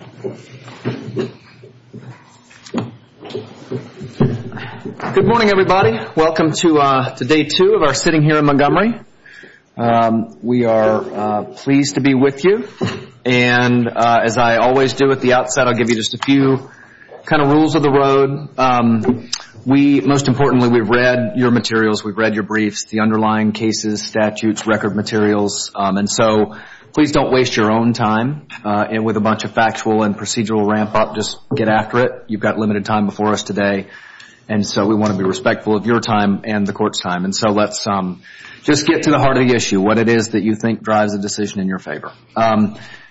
Good morning everybody. Welcome to day 2 of our sitting here in Montgomery. We are pleased to be with you and as I always do at the outset, I'll give you just a few kind of rules of the road. We, most importantly, we've read your materials, we've read your briefs, the underlying cases, statutes, record materials, and so please don't waste your own time with a bunch of factual and procedural ramp up, just get after it. You've got limited time before us today and so we want to be respectful of your time and the court's time. And so let's just get to the heart of the issue, what it is that you think drives the decision in your favor.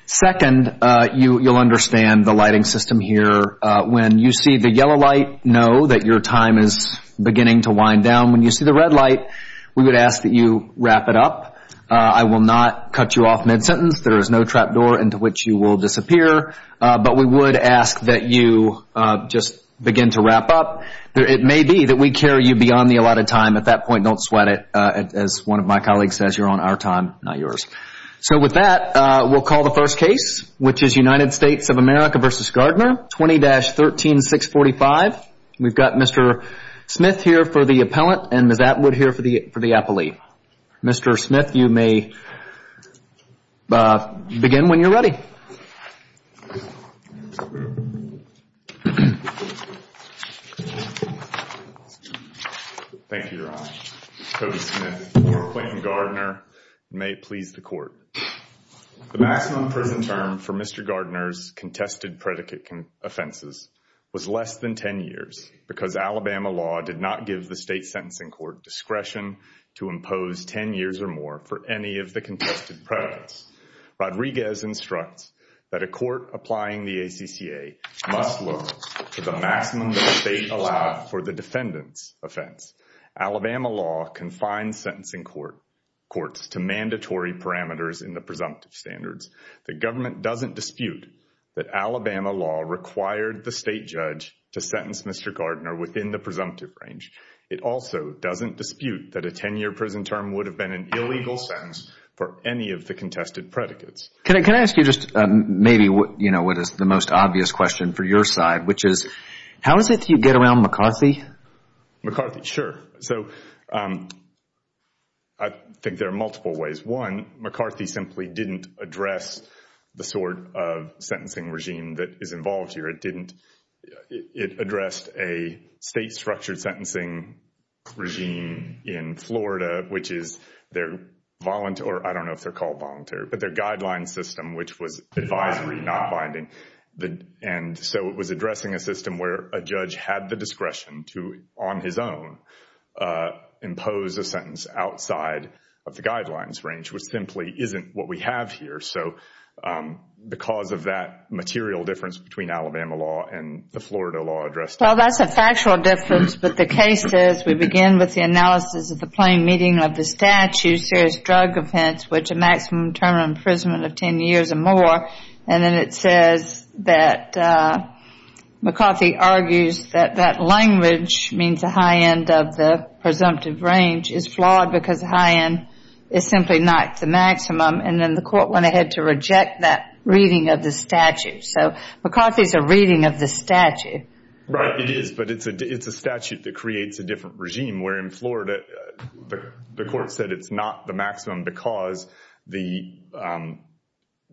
Second, you'll understand the lighting system here. When you see the yellow light, know that your time is beginning to wind down. When you see the red light, we would ask that you wrap it up. I will not cut you off mid-sentence. There is no trap door into which you will disappear, but we would ask that you just begin to wrap up. It may be that we carry you beyond the allotted time. At that point, don't sweat it. As one of my colleagues says, you're on our time, not yours. So with that, we'll call the first case, which is United States of America v. Gardner, 20-13-645. We've got Mr. Smith here for the appellant and Ms. Atwood here for the appellee. Mr. Smith, when you're ready. Thank you, Your Honor. Cody Smith, appellant in Gardner. May it please the Court. The maximum prison term for Mr. Gardner's contested predicate offenses was less than 10 years because Alabama law did not give the state sentencing court discretion to impose 10 years or more for any of the contested predicates. Rodriguez instructs that a court applying the ACCA must look to the maximum that the state allowed for the defendant's offense. Alabama law confines sentencing courts to mandatory parameters in the presumptive standards. The government doesn't dispute that Alabama law required the state judge to sentence Mr. Gardner within the presumptive range. It also doesn't dispute that a 10-year prison term would have been an illegal sentence for any of the contested predicates. Can I ask you just maybe what is the most obvious question for your side, which is how is it that you get around McCarthy? McCarthy, sure. I think there are multiple ways. One, McCarthy simply didn't address the sort of sentencing regime that is involved here. It addressed a state-structured sentencing regime in Florida, which is their, I don't know if they're called voluntary, but their guideline system, which was advisory, not binding. So it was addressing a system where a judge had the discretion to, on his own, impose a sentence outside of the guidelines range, which simply isn't what we have here. So because of that material difference between Alabama law and the Florida law addressed... Well, that's a factual difference, but the case says we begin with the analysis of the plain meaning of the statute, serious drug offense, which a maximum term of imprisonment of 10 years or more. And then it says that McCarthy argues that that language, means the high end of the presumptive range, is flawed because the high end is simply not the maximum. And then the court went ahead to reject that reading of the statute. So McCarthy's a reading of the statute. Right. It is, but it's a statute that creates a different regime. Where in Florida, the court said it's not the maximum because the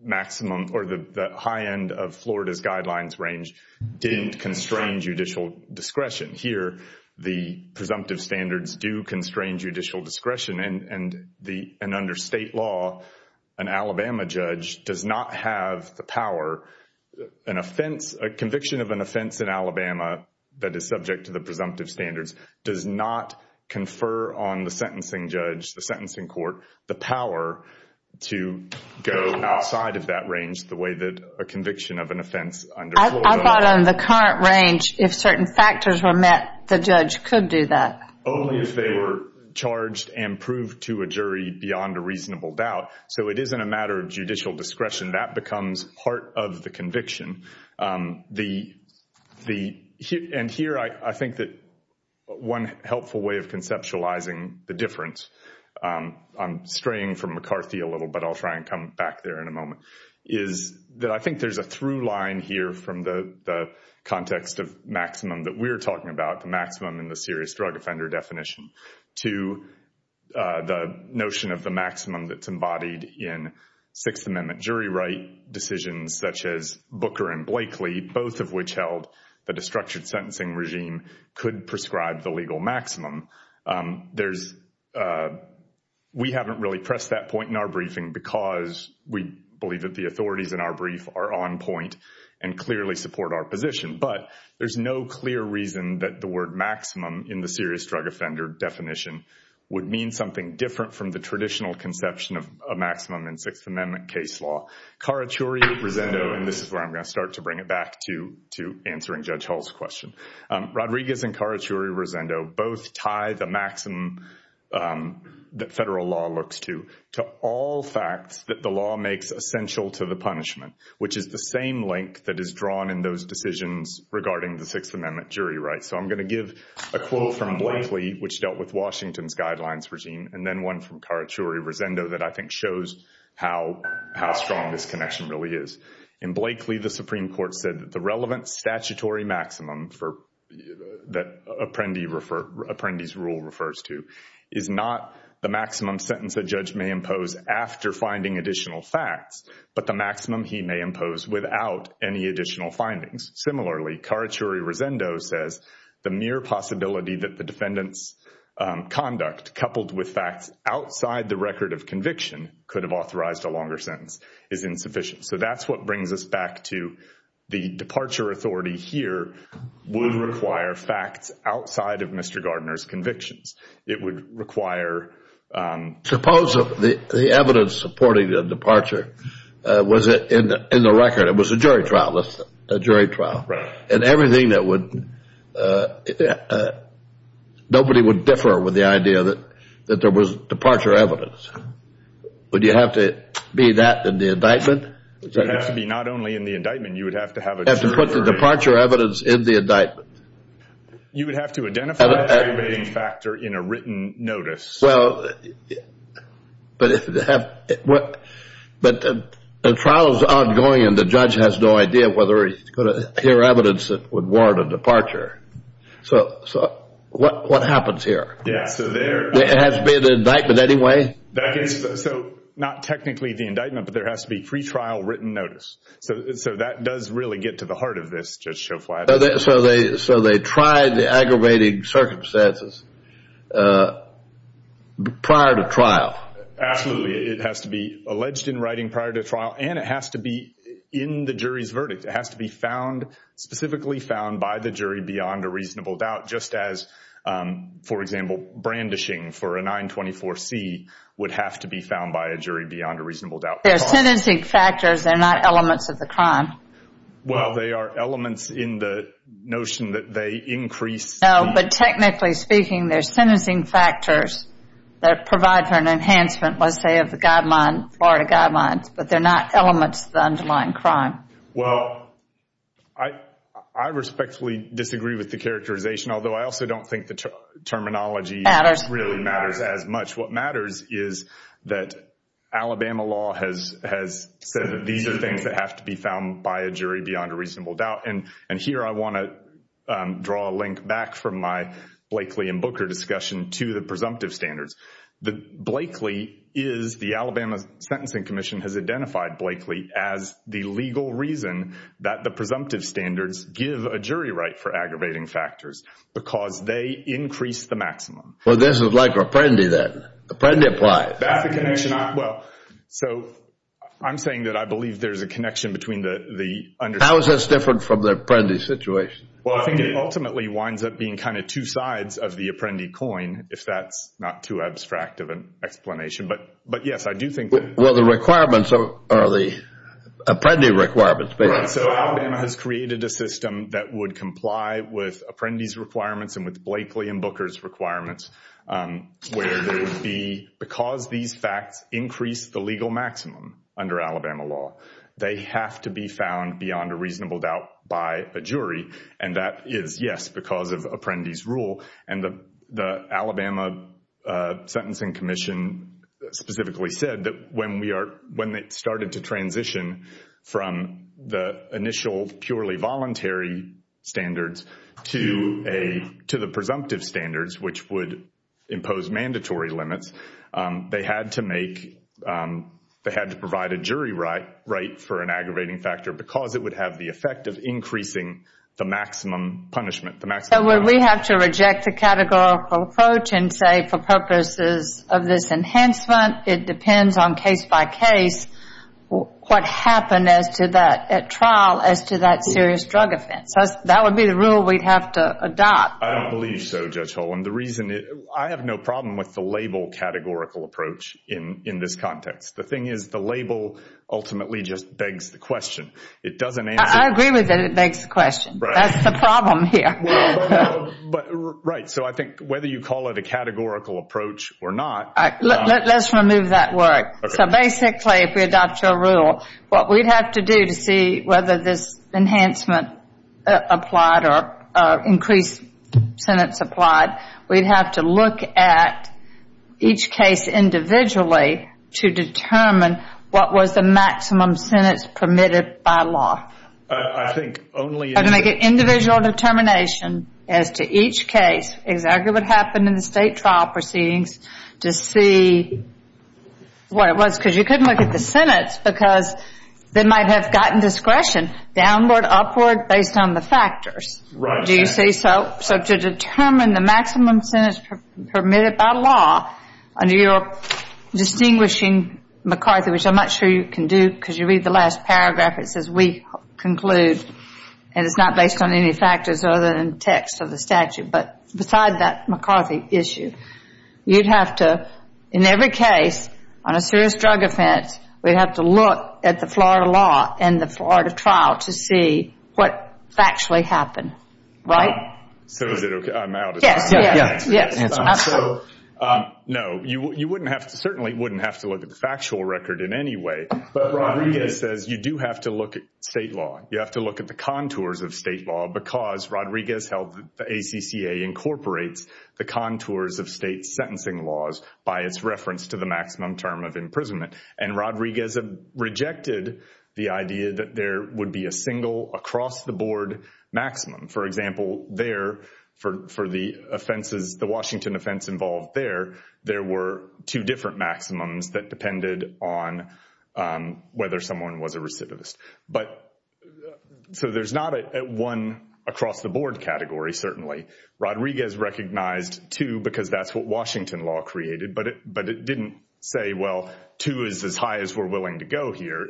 maximum or the high end of Florida's guidelines range didn't constrain judicial discretion. Here, the presumptive standards do constrain judicial discretion. And under state law, an Alabama judge does not have the power, an offense, a conviction of an offense in Alabama that is subject to the presumptive standards, does not confer on the sentencing judge, the sentencing court, the power to go outside of that range the way that a conviction of an offense under Florida- I thought on the current range, if certain factors were met, the judge could do that. Only if they were charged and proved to a jury beyond a reasonable doubt. So it isn't a matter of judicial discretion. That becomes part of the conviction. And here, I think that one helpful way of conceptualizing the difference, I'm straying from McCarthy a little, but I'll try and come back there in a moment, is that I think there's a through line here from the context of maximum that we're talking about, the maximum in the serious drug offender definition, to the notion of the maximum that's embodied in Sixth Amendment jury right decisions such as Booker and Blakely, both of which held that a structured sentencing regime could prescribe the legal maximum. We haven't really pressed that point in our briefing because we believe that the authorities in our brief are on point and clearly support our position. But there's no clear reason that the word maximum in the serious drug offender definition would mean something different from the traditional conception of a maximum in Sixth Amendment case law. Carachuri, Rosendo, and this is where I'm going to start to bring it back to answering Judge Hall's question. Rodriguez and Carachuri, Rosendo, both tie the maximum that federal law looks to, to all facts that the law makes essential to the punishment, which is the same link that is drawn in those decisions regarding the Sixth Amendment jury rights. So I'm going to give a quote from Blakely, which dealt with Washington's guidelines regime, and then one from Carachuri, Rosendo, that I think shows how strong this connection really is. In Blakely, the Supreme Court said that the relevant statutory maximum that Apprendi's rule refers to is not the maximum sentence a judge may impose after finding additional facts, but the maximum he may impose without any additional findings. Similarly, Carachuri, Rosendo says the mere possibility that the defendant's conduct coupled with facts outside the record of conviction could have authorized a longer sentence is insufficient. So that's what brings us back to the departure authority here would require facts outside of Mr. Gardner's convictions. It would require... Departure was in the record. It was a jury trial. A jury trial. And everything that would... Nobody would differ with the idea that there was departure evidence. Would you have to be that in the indictment? It would have to be not only in the indictment. You would have to have a jury... You would have to put the departure evidence in the indictment. You would have to identify a jury rating factor in a written notice. Well, but if they have... But the trial is ongoing and the judge has no idea whether he's going to hear evidence that would warrant a departure. So what happens here? Yeah, so there... There has to be an indictment anyway? That is... So not technically the indictment, but there has to be pre-trial written notice. So that does really get to the heart of this, Judge Schoflat. So they tried the aggravating circumstances prior to trial? Absolutely. It has to be alleged in writing prior to trial. And it has to be in the jury's verdict. It has to be found, specifically found by the jury beyond a reasonable doubt. Just as, for example, brandishing for a 924C would have to be found by a jury beyond a reasonable doubt. They're sentencing factors. They're not elements of the crime. Well, they are elements in the notion that they increase... No, but technically speaking, they're sentencing factors that provide for an enhancement, let's say, of the Florida guidelines, but they're not elements of the underlying crime. Well, I respectfully disagree with the characterization, although I also don't think the terminology... Matters. ...really matters as much. What matters is that Alabama law has said that these are things that have to be found by a jury beyond a reasonable doubt. And here I want to draw a link back from my Blakeley and Booker discussion to the presumptive standards. The Blakeley is, the Alabama Sentencing Commission has identified Blakeley as the legal reason that the presumptive standards give a jury right for aggravating factors because they increase the maximum. Well, this is like Reprendi then. Reprendi applies. Well, so I'm saying that I believe there's a connection between the... How is this different from the Apprendi situation? Well, I think it ultimately winds up being kind of two sides of the Apprendi coin, if that's not too abstract of an explanation. But yes, I do think that... Well, the requirements are the Apprendi requirements, basically. Right, so Alabama has created a system that would comply with Apprendi's requirements and with Blakeley and Booker's requirements, where there would be, because these facts increase the legal maximum under Alabama law, they have to be found beyond a reasonable doubt by a jury. And that is, yes, because of Apprendi's rule. And the Alabama Sentencing Commission specifically said that when it started to transition from the initial purely voluntary standards to the presumptive standards, which would impose mandatory limits, they had to make, they had to provide a jury right for an aggravating factor because it would have the effect of increasing the maximum punishment. So would we have to reject the categorical approach and say, for purposes of this enhancement, it depends on case by case, what happened as to that, at trial, as to that serious drug offense? That would be the rule we'd have to adopt. I don't believe so, Judge Hull. And the reason, I have no problem with the label categorical approach in this context. The thing is, the label ultimately just begs the question. It doesn't answer... I agree with it, it begs the question. That's the problem here. Right, so I think whether you call it a categorical approach or not... Let's remove that word. So basically, if we adopt your rule, what we'd have to do to see whether this enhancement applied or increased sentence applied, we'd have to look at each case individually to determine what was the maximum sentence permitted by law. I think only... Individual determination as to each case, exactly what happened in the state trial proceedings, to see what it was, because you couldn't look at the sentence because they might have gotten discretion downward, upward, based on the factors. Right. Do you see? So to determine the maximum sentence permitted by law, under your distinguishing McCarthy, which I'm not sure you can do because you read the last paragraph, it says, we conclude, and it's not based on any factors other than text of the statute, but beside that McCarthy issue, you'd have to, in every case on a serious drug offense, we'd have to look at the Florida law and the Florida trial to see what actually happened. Right? So is it okay? I'm out. Yes, yes. No, you wouldn't have to, certainly wouldn't have to look at the factual record in any way, but state law, you have to look at the contours of state law because Rodriguez held the ACCA incorporates the contours of state sentencing laws by its reference to the maximum term of imprisonment. And Rodriguez rejected the idea that there would be a single across the board maximum. For example, there, for the offenses, the Washington offense involved there, there were two different maximums that depended on whether someone was a recidivist. But so there's not one across the board category, certainly. Rodriguez recognized two because that's what Washington law created, but it didn't say, well, two is as high as we're willing to go here.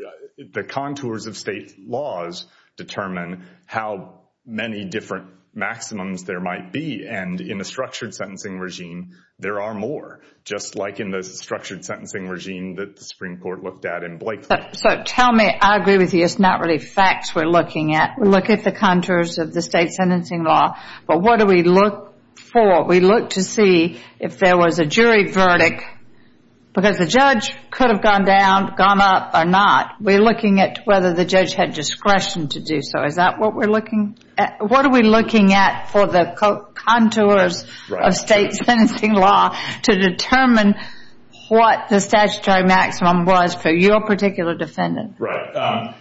The contours of state laws determine how many different maximums there might be. And in a structured sentencing regime, there are more, just like in the structured sentencing regime that the Supreme Court looked at in Blakely. So tell me, I agree with you, it's not really facts we're looking at. We look at the contours of the state sentencing law, but what do we look for? We look to see if there was a jury verdict because the judge could have gone down, gone up, or not. We're looking at whether the judge had discretion to do so. Is that what we're looking at? What are we looking at for the contours of state sentencing law to determine what the statutory maximum was for your particular defendant? Right.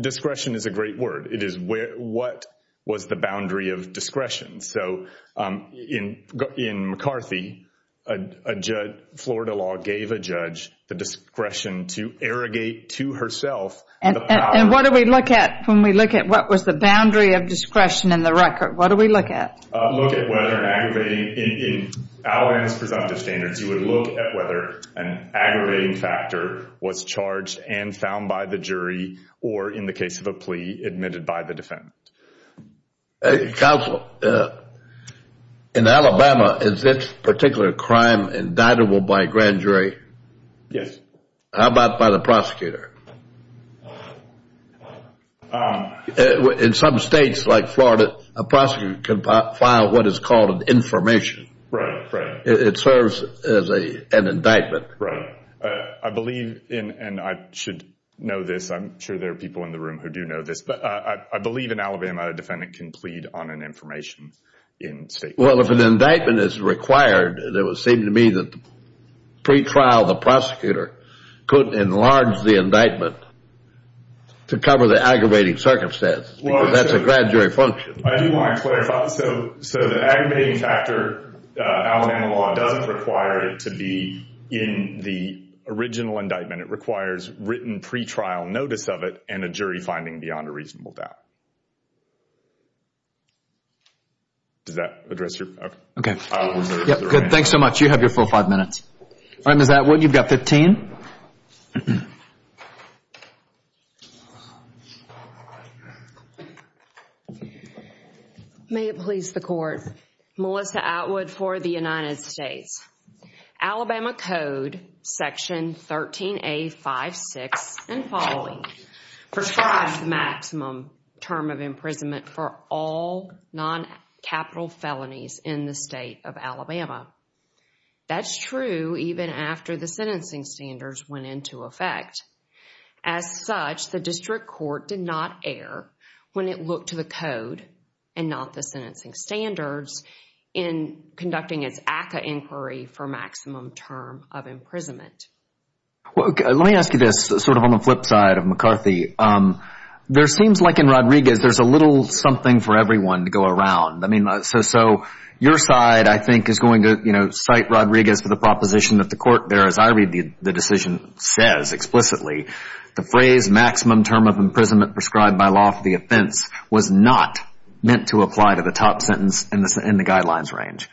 Discretion is a great word. It is what was the boundary of discretion. So in McCarthy, a judge, Florida law gave a judge the discretion to irrigate to herself the power. And what do we look at when we look at what was the boundary of discretion in the record? What do we look at? Look at whether an aggravating, in Alabama's presumptive standards, you would look at whether an aggravating factor was charged and found by the jury or, in the case of a plea, admitted by the defendant. Counsel, in Alabama, is this particular crime indictable by a grand jury? Yes. How about by the prosecutor? In some states like Florida, a prosecutor can file what is called an information. Right. It serves as an indictment. Right. I believe, and I should know this, I'm sure there are people in the room who do know this, but I believe in Alabama a defendant can plead on an information in state court. Well, if an indictment is required, it would seem to me that the pretrial, the prosecutor, could enlarge the indictment to cover the aggravating circumstance because that's a grand jury function. I do want to clarify. So the aggravating factor, Alabama law doesn't require it to be in the original indictment. It requires written pretrial notice of it and a jury finding beyond a reasonable doubt. Does that address your question? Okay. Good. Thanks so much. You have your full five minutes. All right, Ms. Atwood, you've got 15. May it please the Court. Melissa Atwood for the United States. Alabama code section 13A56 and following prescribes the maximum term of imprisonment for all non-capital felonies in the state of Alabama. That's true even after the sentencing standards went into effect. As such, the district court did not err when it looked to the code and not the sentencing standards in conducting its inquiry for maximum term of imprisonment. Let me ask you this, sort of on the flip side of McCarthy. There seems like in Rodriguez there's a little something for everyone to go around. I mean, so your side, I think, is going to, you know, cite Rodriguez for the proposition that the court there, as I read the decision, says explicitly the phrase maximum term of imprisonment prescribed by law for the offense was not meant to apply to the top sentence in the guidelines range.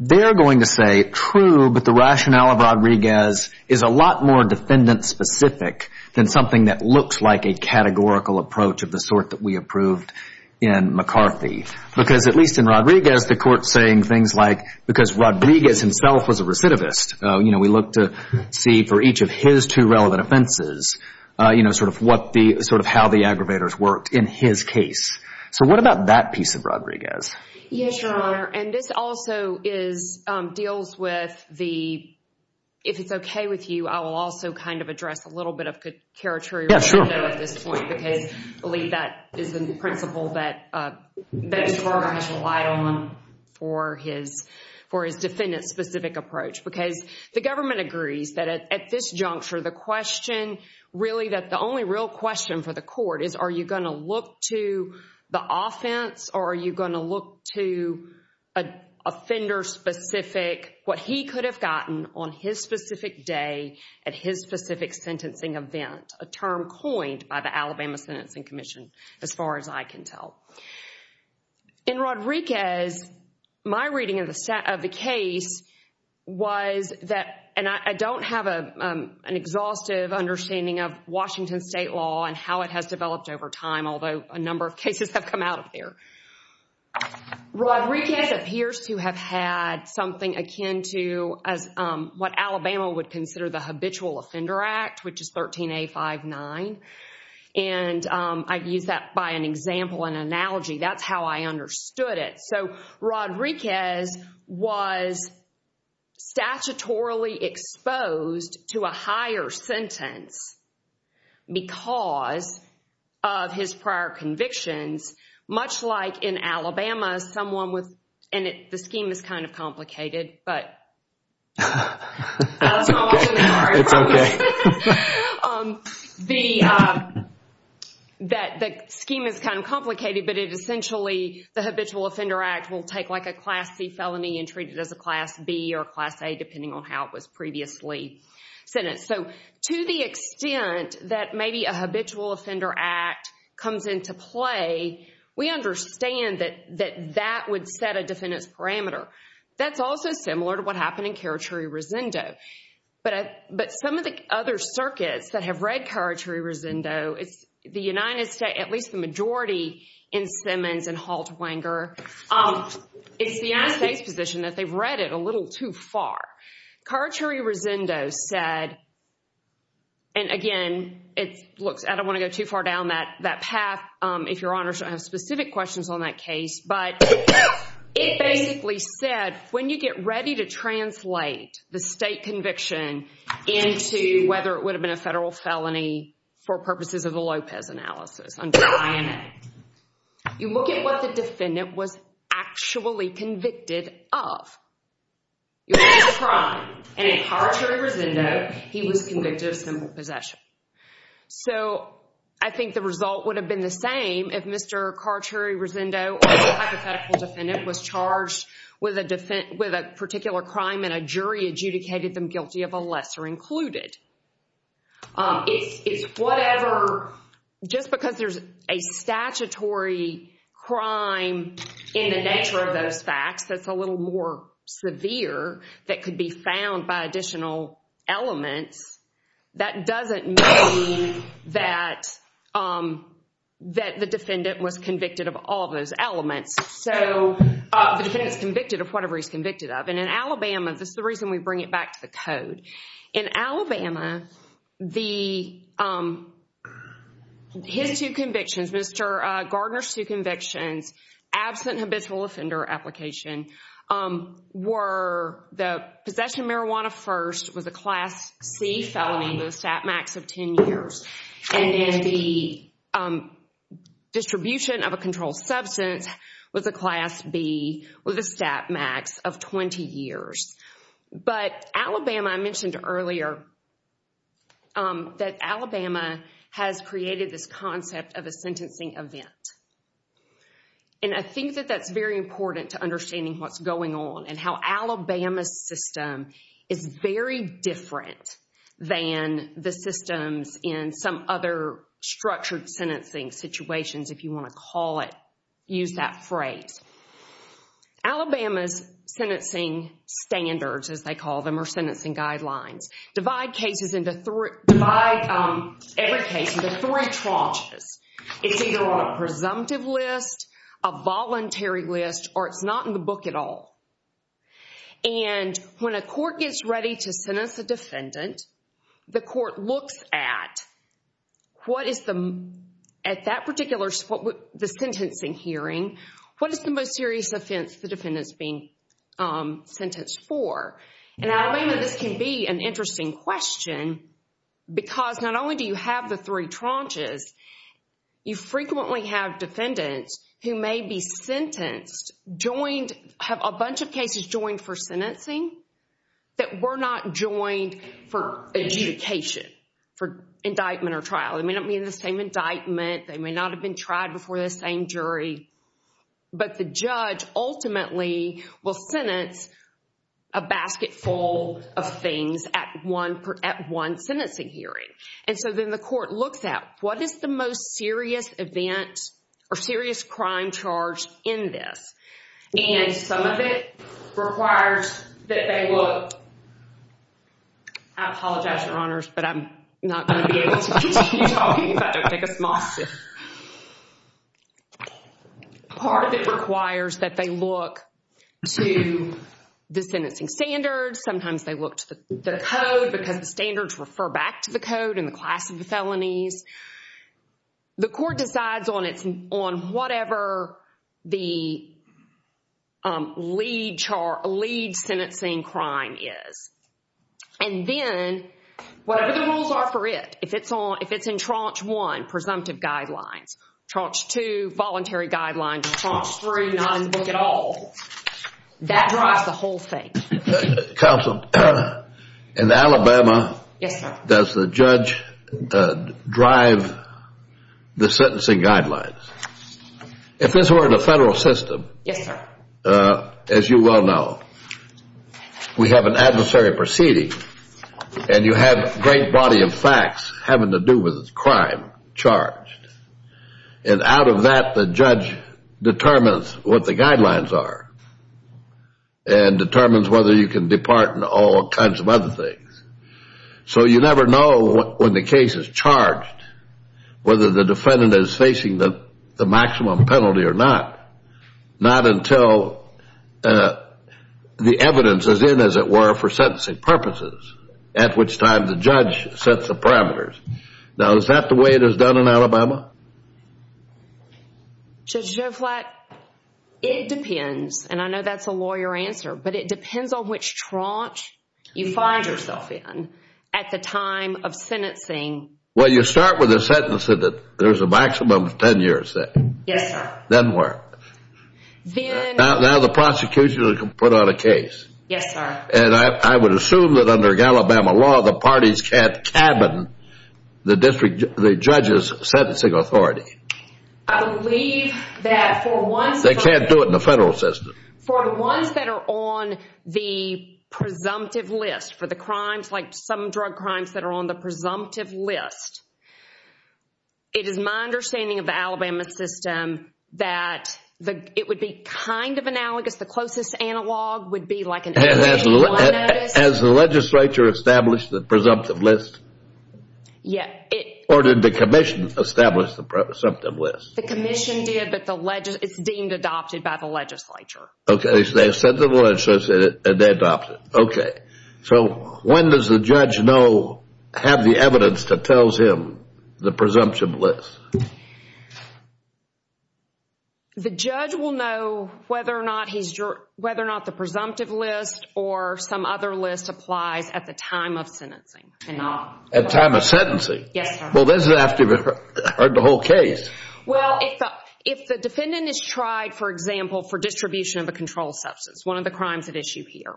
They're going to say true, but the rationale of Rodriguez is a lot more defendant specific than something that looks like a categorical approach of the sort that we approved in McCarthy. Because at least in Rodriguez, the court's saying things like because Rodriguez himself was a recidivist, you know, we look to see for each of his two relevant offenses, you know, sort of how the aggravators worked in his case. So what about that piece of Rodriguez? Yes, Your Honor. And this also is, deals with the, if it's okay with you, I will also kind of address a little bit of character at this point. Yes, sure. Because I believe that is the principle that this program has relied on for his defendant specific approach. Because the government agrees that at this juncture, the question really, that the only real question for the court is, are you going to look to the offense or are you going to look to a offender specific, what he could have gotten on his specific day at his specific sentencing event, a term coined by the Alabama Sentencing Commission, as far as I can tell. In Rodriguez, my reading of the case was that, and I don't have an exhaustive understanding of Washington State law and how it has developed over time, although a number of cases have come out of there. Rodriguez appears to have had something akin to what Alabama would consider the Habitual Offender Act, which is 13A59. And I've used that by an example, an analogy. That's how I understood it. So Rodriguez was statutorily exposed to a higher sentence because of his prior convictions, much like in Alabama someone with, and the scheme is kind of complicated, but. That's okay. It's okay. The scheme is kind of complicated, but it essentially, the Habitual Offender Act will take like a Class C felony and treat it as a Class B or Class A, depending on how it was previously sentenced. So to the extent that maybe a Habitual Offender Act comes into play, we understand that that would set a defendant's parameter. That's also similar to what happened in Carachuri-Rosendo. But some of the other circuits that have read Carachuri-Rosendo, it's the United States, at least the majority in Simmons and Haltwanger, it's the United States position that they've read it a little too far. Carachuri-Rosendo said, and again, it looks, I don't want to go too far down that path, if Your Honor should have specific questions on that case, but it basically said when you get ready to translate the state conviction into whether it would have been a federal felony for purposes of the Lopez analysis under IMA, you look at what the defendant was actually convicted of. It was a crime, and in Carachuri-Rosendo, he was convicted of simple possession. So I think the result would have been the same if Mr. Carachuri-Rosendo, a hypothetical defendant, was charged with a particular crime and a jury adjudicated them guilty of a lesser included. It's whatever, just because there's a statutory crime in the nature of those facts that's a little more severe that could be found by additional elements, that doesn't mean that the defendant was convicted of all those elements. So the defendant's convicted of whatever he's convicted of. And in Alabama, this is the reason we bring it back to the code. In Alabama, his two convictions, Mr. Gardner's two convictions, absent and habitual offender application, were the possession of marijuana first was a Class C felony with a stat max of 10 years, and the distribution of a controlled substance was a Class B with a stat max of 20 years. But Alabama, I mentioned earlier that Alabama has created this concept of a sentencing event. And I think that that's very important to understanding what's going on and how Alabama's system is very different than the systems in some other structured sentencing situations, if you want to call it, use that phrase. Alabama's sentencing standards, as they call them, or sentencing guidelines, divide every case into three tranches. It's either on a presumptive list, a voluntary list, or it's not in the book at all. And when a court gets ready to sentence a defendant, the court looks at that particular sentencing hearing, what is the most serious offense the defendant's being sentenced for? And Alabama, this can be an interesting question because not only do you have the three tranches, you frequently have defendants who may be sentenced, have a bunch of cases joined for sentencing that were not joined for adjudication, for indictment or trial. They may not be in the same indictment. They may not have been tried before the same jury. But the judge ultimately will sentence a basket full of things at one sentencing hearing. And so then the court looks at, what is the most serious event or serious crime charged in this? And some of it requires that they look, I apologize, Your Honors, but I'm not going to be able to continue talking if I don't take a small sip. Part of it requires that they look to the sentencing standards. Sometimes they look to the code because the standards refer back to the code and the class of the felonies. The court decides on whatever the lead sentencing crime is. And then whatever the rules are for it, if it's in tranche one, presumptive guidelines, tranche two, voluntary guidelines, tranche three, not in the book at all, that drives the whole thing. Counsel, in Alabama, does the judge drive the sentencing guidelines? If this were in the federal system, as you well know, we have an adversary proceeding and you have a great body of facts having to do with crime charged. And out of that, the judge determines what the guidelines are and determines whether you can depart and all kinds of other things. So you never know when the case is charged whether the defendant is facing the maximum penalty or not, not until the evidence is in, as it were, for sentencing purposes, at which time the judge sets the parameters. Now, is that the way it is done in Alabama? Judge Joe Flack, it depends. And I know that's a lawyer answer. But it depends on which tranche you find yourself in at the time of sentencing. Well, you start with a sentence that there's a maximum of 10 years there. Yes, sir. Then where? Now the prosecution can put out a case. Yes, sir. And I would assume that under Alabama law, the parties can't cabin the judge's sentencing authority. I believe that for once... They can't do it in the federal system. For the ones that are on the presumptive list for the crimes, like some drug crimes that are on the presumptive list, it is my understanding of the Alabama system that it would be kind of analogous. The closest analog would be like an 8-1-1 notice. Has the legislature established the presumptive list? Yes. Or did the commission establish the presumptive list? The commission did, but it's deemed adopted by the legislature. Okay, so they sent the legislature and they adopted it. Okay. So when does the judge know, have the evidence that tells him the presumptive list? The judge will know whether or not the presumptive list or some other list applies at the time of sentencing. At time of sentencing? Yes, sir. Well, this is after the whole case. Well, if the defendant is tried, for example, for distribution of a controlled substance, one of the crimes at issue here,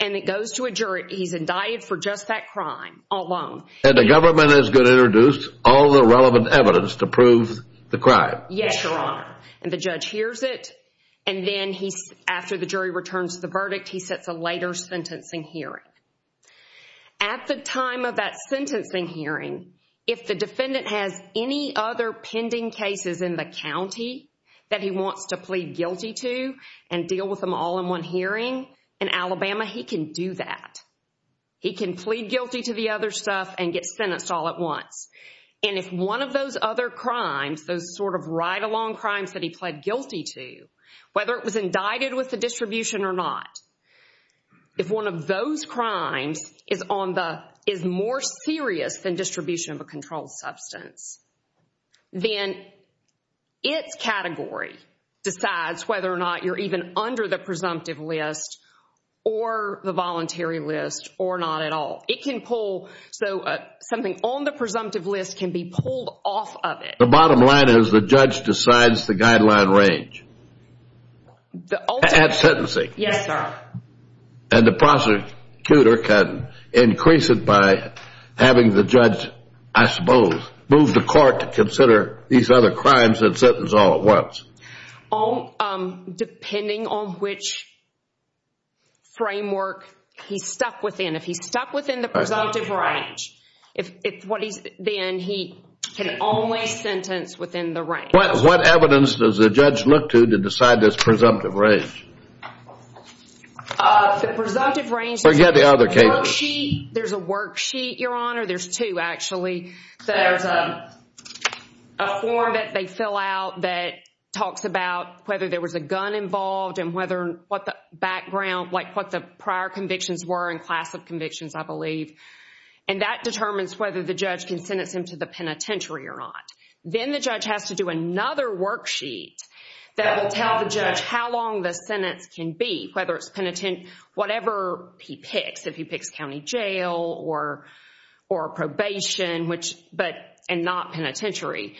and it goes to a jury, he's indicted for just that crime alone. And the government is going to introduce all the relevant evidence to prove the crime? Yes, Your Honor. And the judge hears it, and then after the jury returns the verdict, he sets a later sentencing hearing. At the time of that sentencing hearing, if the defendant has any other pending cases in the county that he wants to plead guilty to and deal with them all in one hearing, in Alabama, he can do that. He can plead guilty to the other stuff and get sentenced all at once. And if one of those other crimes, those sort of ride-along crimes that he pled guilty to, whether it was indicted with the distribution or not, if one of those crimes is more serious than distribution of a controlled substance, then its category decides whether or not you're even under the presumptive list or the voluntary list or not at all. It can pull, so something on the presumptive list can be pulled off of it. The bottom line is the judge decides the guideline range at sentencing. Yes, sir. And the prosecutor can increase it by having the judge, I suppose, move the court to consider these other crimes and sentence all at once. Depending on which framework he's stuck within. If he's stuck within the presumptive range, then he can only sentence within the range. What evidence does the judge look to to decide this presumptive range? Forget the other cases. There's a worksheet, Your Honor. There's two, actually. There's a form that they fill out that talks about whether there was a gun involved and what the prior convictions were and class of convictions, I believe. And that determines whether the judge can sentence him to the penitentiary or not. Then the judge has to do another worksheet that will tell the judge how long the sentence can be, whether it's penitent, whatever he picks. If he picks county jail or probation and not penitentiary.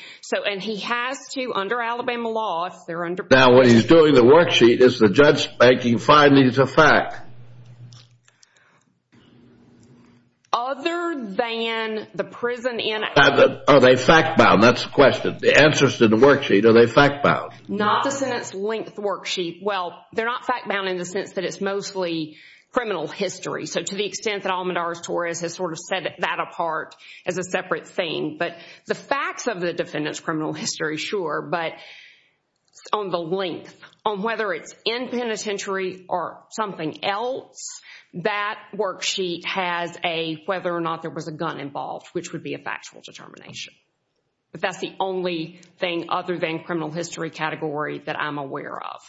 And he has to, under Alabama law, if they're under penitentiary... Now, what he's doing in the worksheet is the judge is making findings of fact. Other than the prison in Alabama... Are they fact-bound? That's the question. The answers to the worksheet, are they fact-bound? Not the sentence length worksheet. Well, they're not fact-bound in the sense that it's mostly criminal history. So, to the extent that Almedar Torres has sort of set that apart as a separate thing. But the facts of the defendant's criminal history, sure. But on the length, on whether it's in penitentiary or something else, that worksheet has a whether or not there was a gun involved, which would be a factual determination. But that's the only thing other than criminal history category that I'm aware of.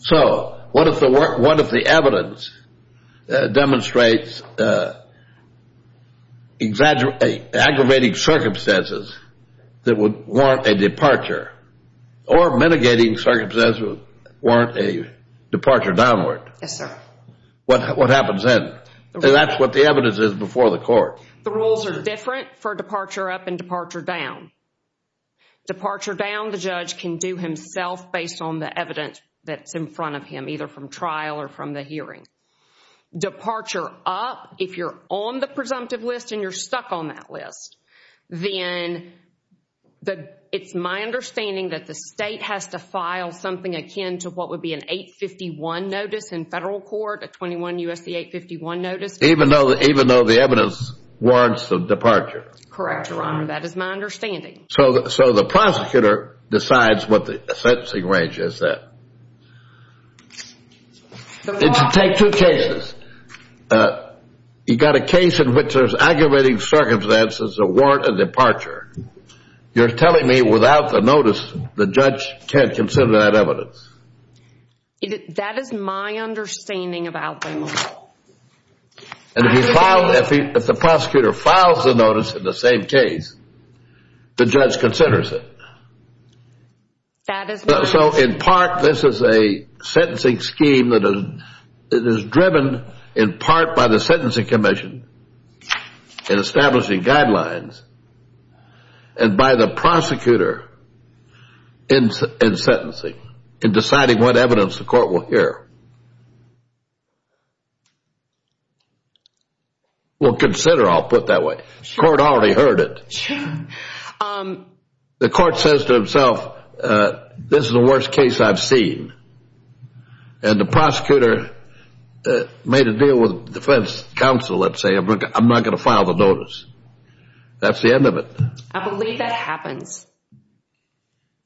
So, what if the evidence demonstrates aggravating circumstances that would warrant a departure? Or mitigating circumstances that would warrant a departure downward? Yes, sir. What happens then? That's what the evidence is before the court. The rules are different for departure up and departure down. Departure down, the judge can do himself based on the evidence that's in front of him, either from trial or from the hearing. Departure up, if you're on the presumptive list and you're stuck on that list, then it's my understanding that the state has to file something akin to what would be an 851 notice in federal court, a 21 U.S.C. 851 notice. Even though the evidence warrants the departure. Correct, Your Honor. That is my understanding. So, the prosecutor decides what the sentencing range is then. It should take two cases. You've got a case in which there's aggravating circumstances that warrant a departure. You're telling me without the notice, the judge can't consider that evidence. That is my understanding about the notice. And if the prosecutor files the notice in the same case, the judge considers it. That is my understanding. So, in part, this is a sentencing scheme that is driven in part by the sentencing commission in establishing guidelines and by the prosecutor in sentencing, in deciding what evidence the court will hear. Well, consider, I'll put it that way. The court already heard it. The court says to itself, this is the worst case I've seen. And the prosecutor made a deal with defense counsel, let's say, I'm not going to file the notice. That's the end of it. I believe that happens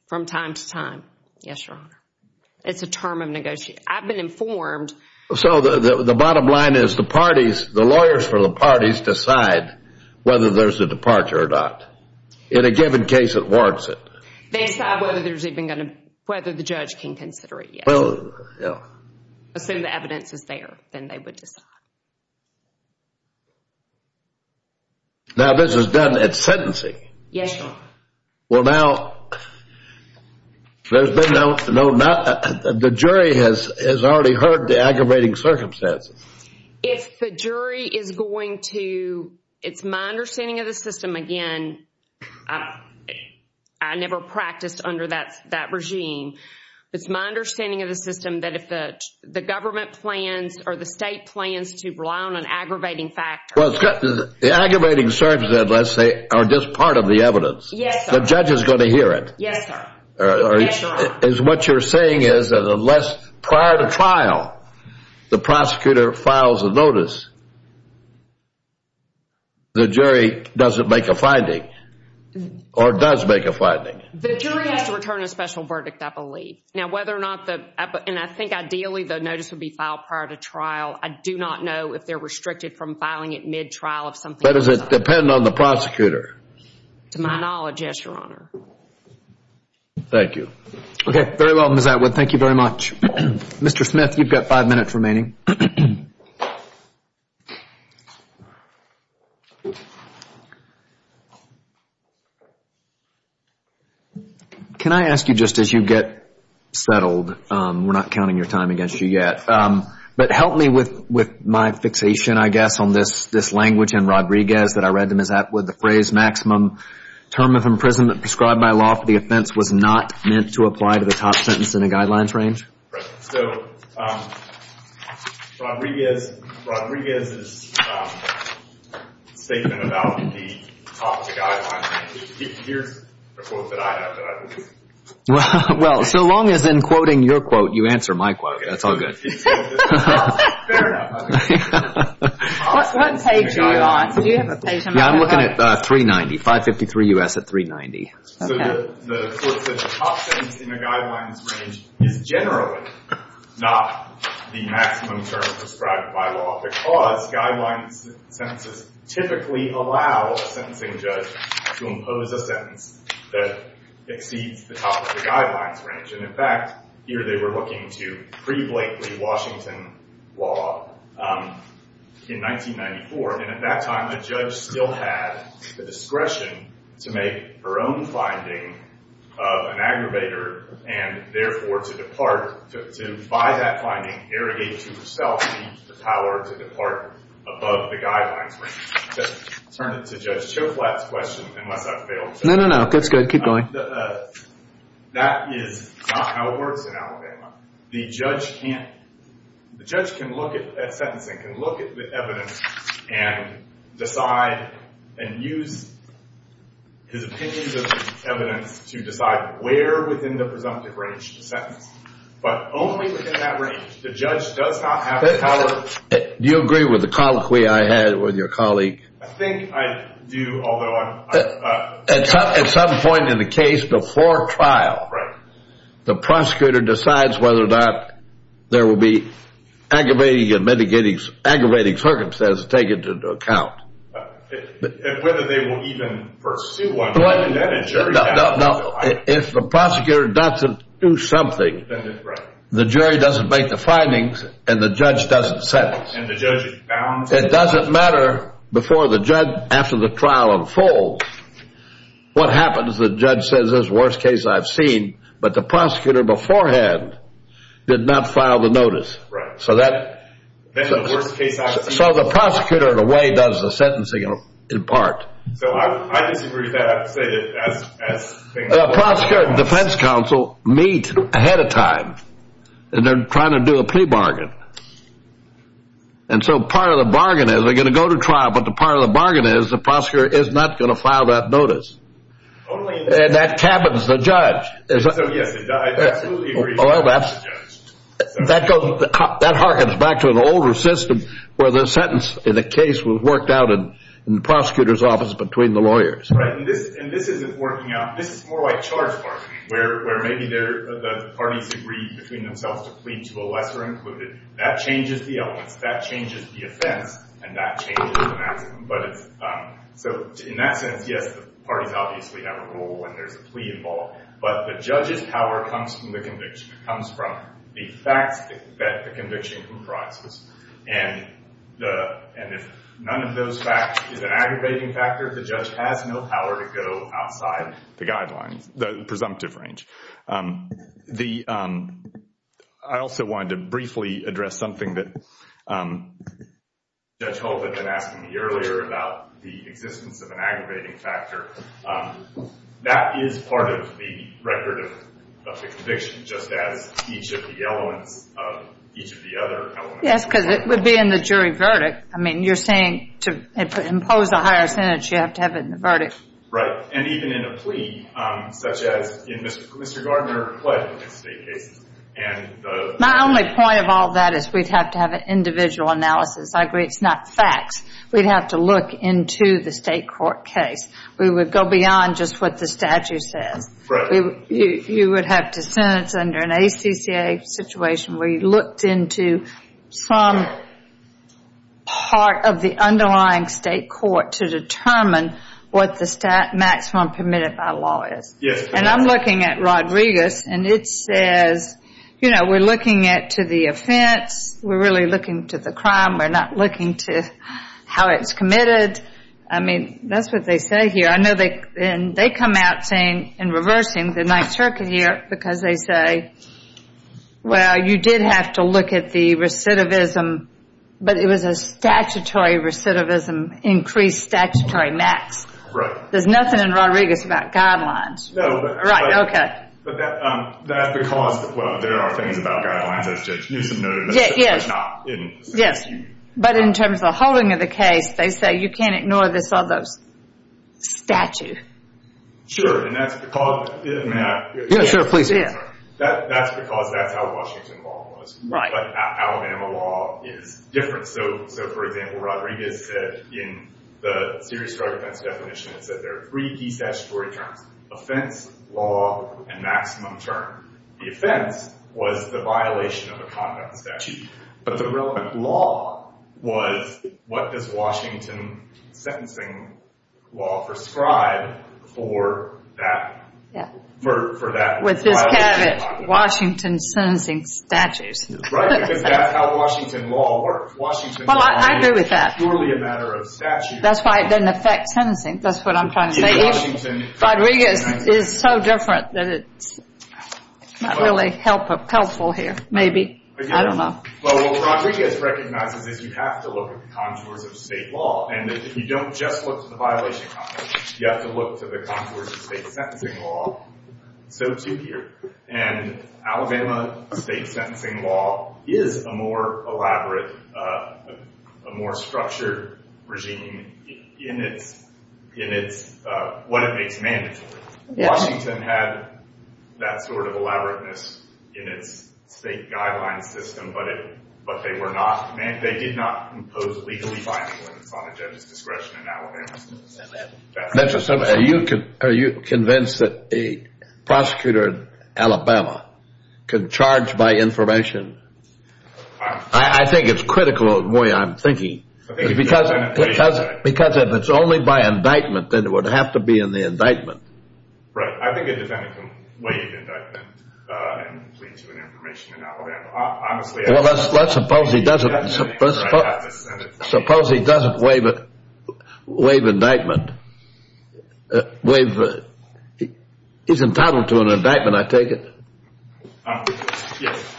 from time to time. Yes, Your Honor. It's a term of negotiation. I've been informed. So, the bottom line is the parties, the lawyers for the parties decide whether there's a departure or not. In a given case, it warrants it. They decide whether there's even going to, whether the judge can consider it yet. Well, yeah. Assume the evidence is there, then they would decide. Now, this is done at sentencing. Yes, Your Honor. Well, now, the jury has already heard the aggravating circumstances. If the jury is going to, it's my understanding of the system, again, I never practiced under that regime. It's my understanding of the system that if the government plans or the state plans to rely on an aggravating factor. Well, the aggravating circumstances, let's say, are just part of the evidence. Yes, sir. The judge is going to hear it. Yes, sir. Yes, Your Honor. What you're saying is that unless prior to trial, the prosecutor files a notice, the jury doesn't make a finding or does make a finding. The jury has to return a special verdict, I believe. Now, whether or not the, and I think ideally the notice would be filed prior to trial, I do not know if they're restricted from filing it mid-trial. But does it depend on the prosecutor? To my knowledge, yes, Your Honor. Thank you. Okay. Very well, Ms. Atwood. Thank you very much. Mr. Smith, you've got five minutes remaining. Thank you. Can I ask you just as you get settled, we're not counting your time against you yet, but help me with my fixation, I guess, on this language and Rodriguez that I read to Ms. Atwood, the phrase maximum term of imprisonment prescribed by law for the offense was not meant to apply to the top sentence in the guidelines range? Right. So Rodriguez's statement about the top of the guidelines range, here's a quote that I have that I believe. Well, so long as in quoting your quote, you answer my quote, that's all good. Fair enough. What page are you on? Do you have a page on that? Yeah, I'm looking at 390, 553 U.S. at 390. So the quote said the top sentence in the guidelines range is generally not the maximum term prescribed by law because guidelines sentences typically allow a sentencing judge to impose a sentence that exceeds the top of the guidelines range. And, in fact, here they were looking to pre-Blakely Washington law in 1994, and at that time the judge still had the discretion to make her own finding of an aggravator and, therefore, to buy that finding, irrigate to herself the power to depart above the guidelines range. To turn it to Judge Choflat's question, unless I've failed. No, no, no. That's good. Keep going. That is not how it works in Alabama. The judge can't, the judge can look at sentencing, can look at the evidence and decide and use his opinions of evidence to decide where within the presumptive range to sentence, but only within that range. The judge does not have the power. Do you agree with the colloquy I had with your colleague? I think I do, although I'm. At some point in the case before trial, the prosecutor decides whether or not there will be aggravating and mitigating, aggravating circumstances taken into account. Whether they will even pursue one. Now, if the prosecutor doesn't do something, the jury doesn't make the findings and the judge doesn't sentence. And the judge is bound to. It doesn't matter before the judge, after the trial unfolds, what happens. The judge says this is the worst case I've seen. But the prosecutor beforehand did not file the notice. Right. So the prosecutor in a way does the sentencing in part. So I disagree with that. The prosecutor and defense counsel meet ahead of time and they're trying to do a plea bargain. And so part of the bargain is they're going to go to trial. But the part of the bargain is the prosecutor is not going to file that notice. And that cabins the judge. Yes, I absolutely agree. Well, that harkens back to an older system where the sentence in a case was worked out in the prosecutor's office between the lawyers. Right. And this isn't working out. This is more like charge bargaining where maybe the parties agree between themselves to plead to a lesser included. That changes the elements. That changes the offense. And that changes the maximum. So in that sense, yes, the parties obviously have a role when there's a plea involved. But the judge's power comes from the conviction. It comes from the facts that the conviction comprises. And if none of those facts is an aggravating factor, the judge has no power to go outside the guidelines, the presumptive range. I also wanted to briefly address something that Judge Holt had been asking me earlier about the existence of an aggravating factor. That is part of the record of the conviction, just as each of the elements of each of the other elements. Yes, because it would be in the jury verdict. I mean, you're saying to impose a higher sentence, you have to have it in the verdict. Right. And even in a plea, such as in Mr. Gardner's case. My only point of all that is we'd have to have an individual analysis. I agree it's not facts. We'd have to look into the state court case. We would go beyond just what the statute says. Right. You would have to sentence under an ACCA situation where you looked into some part of the underlying state court to determine what the maximum permitted by law is. Yes. And I'm looking at Rodriguez, and it says, you know, we're looking at to the offense. We're really looking to the crime. We're not looking to how it's committed. I mean, that's what they say here. I know they come out saying in reversing the Ninth Circuit here because they say, well, you did have to look at the recidivism, but it was a statutory recidivism, increased statutory max. Right. There's nothing in Rodriguez about guidelines. No. Right. Okay. But that's because, well, there are things about guidelines that's just use of notice. Yes. It's not in the statute. Yes. But in terms of the holding of the case, they say you can't ignore this other statute. Sure. And that's because, may I? Yes, sir. Please. That's because that's how Washington law was. Right. But Alabama law is different. So, for example, Rodriguez said in the serious drug offense definition, it said there are three key statutory terms, offense, law, and maximum term. The offense was the violation of a conduct statute. But the relevant law was what does Washington sentencing law prescribe for that? Yes. For that. With this caveat, Washington sentencing statutes. Right. Because that's how Washington law works. Well, I agree with that. Washington law is purely a matter of statute. That's why it doesn't affect sentencing. That's what I'm trying to say. Rodriguez is so different that it's not really helpful here. Maybe. I don't know. Well, what Rodriguez recognizes is you have to look at the contours of state law. And if you don't just look at the violation contours, you have to look to the contours of state sentencing law. So, too, here. And Alabama state sentencing law is a more elaborate, a more structured regime in what it makes mandatory. Washington had that sort of elaborateness in its state guidelines system, but they did not impose legally binding limits on a judge's discretion in Alabama. Are you convinced that a prosecutor in Alabama could charge by information? I think it's critical in the way I'm thinking. Because if it's only by indictment, then it would have to be in the indictment. Right. I think a defendant can waive indictment and plead to an information in Alabama. Well, let's suppose he doesn't. Suppose he doesn't waive indictment. He's entitled to an indictment, I take it. Yes.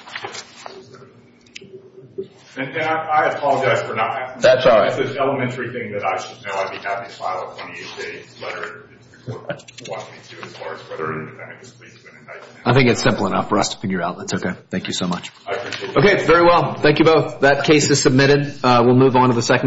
And I apologize for not. That's all right. It's an elementary thing that I should know. I'd be happy to file a 28-day letter to the court if you want me to, as far as whether a defendant can plead to an indictment. I think it's simple enough for us to figure out. That's okay. Thank you so much. I appreciate it. Okay, very well. Thank you both. That case is submitted. We'll move on to the second case.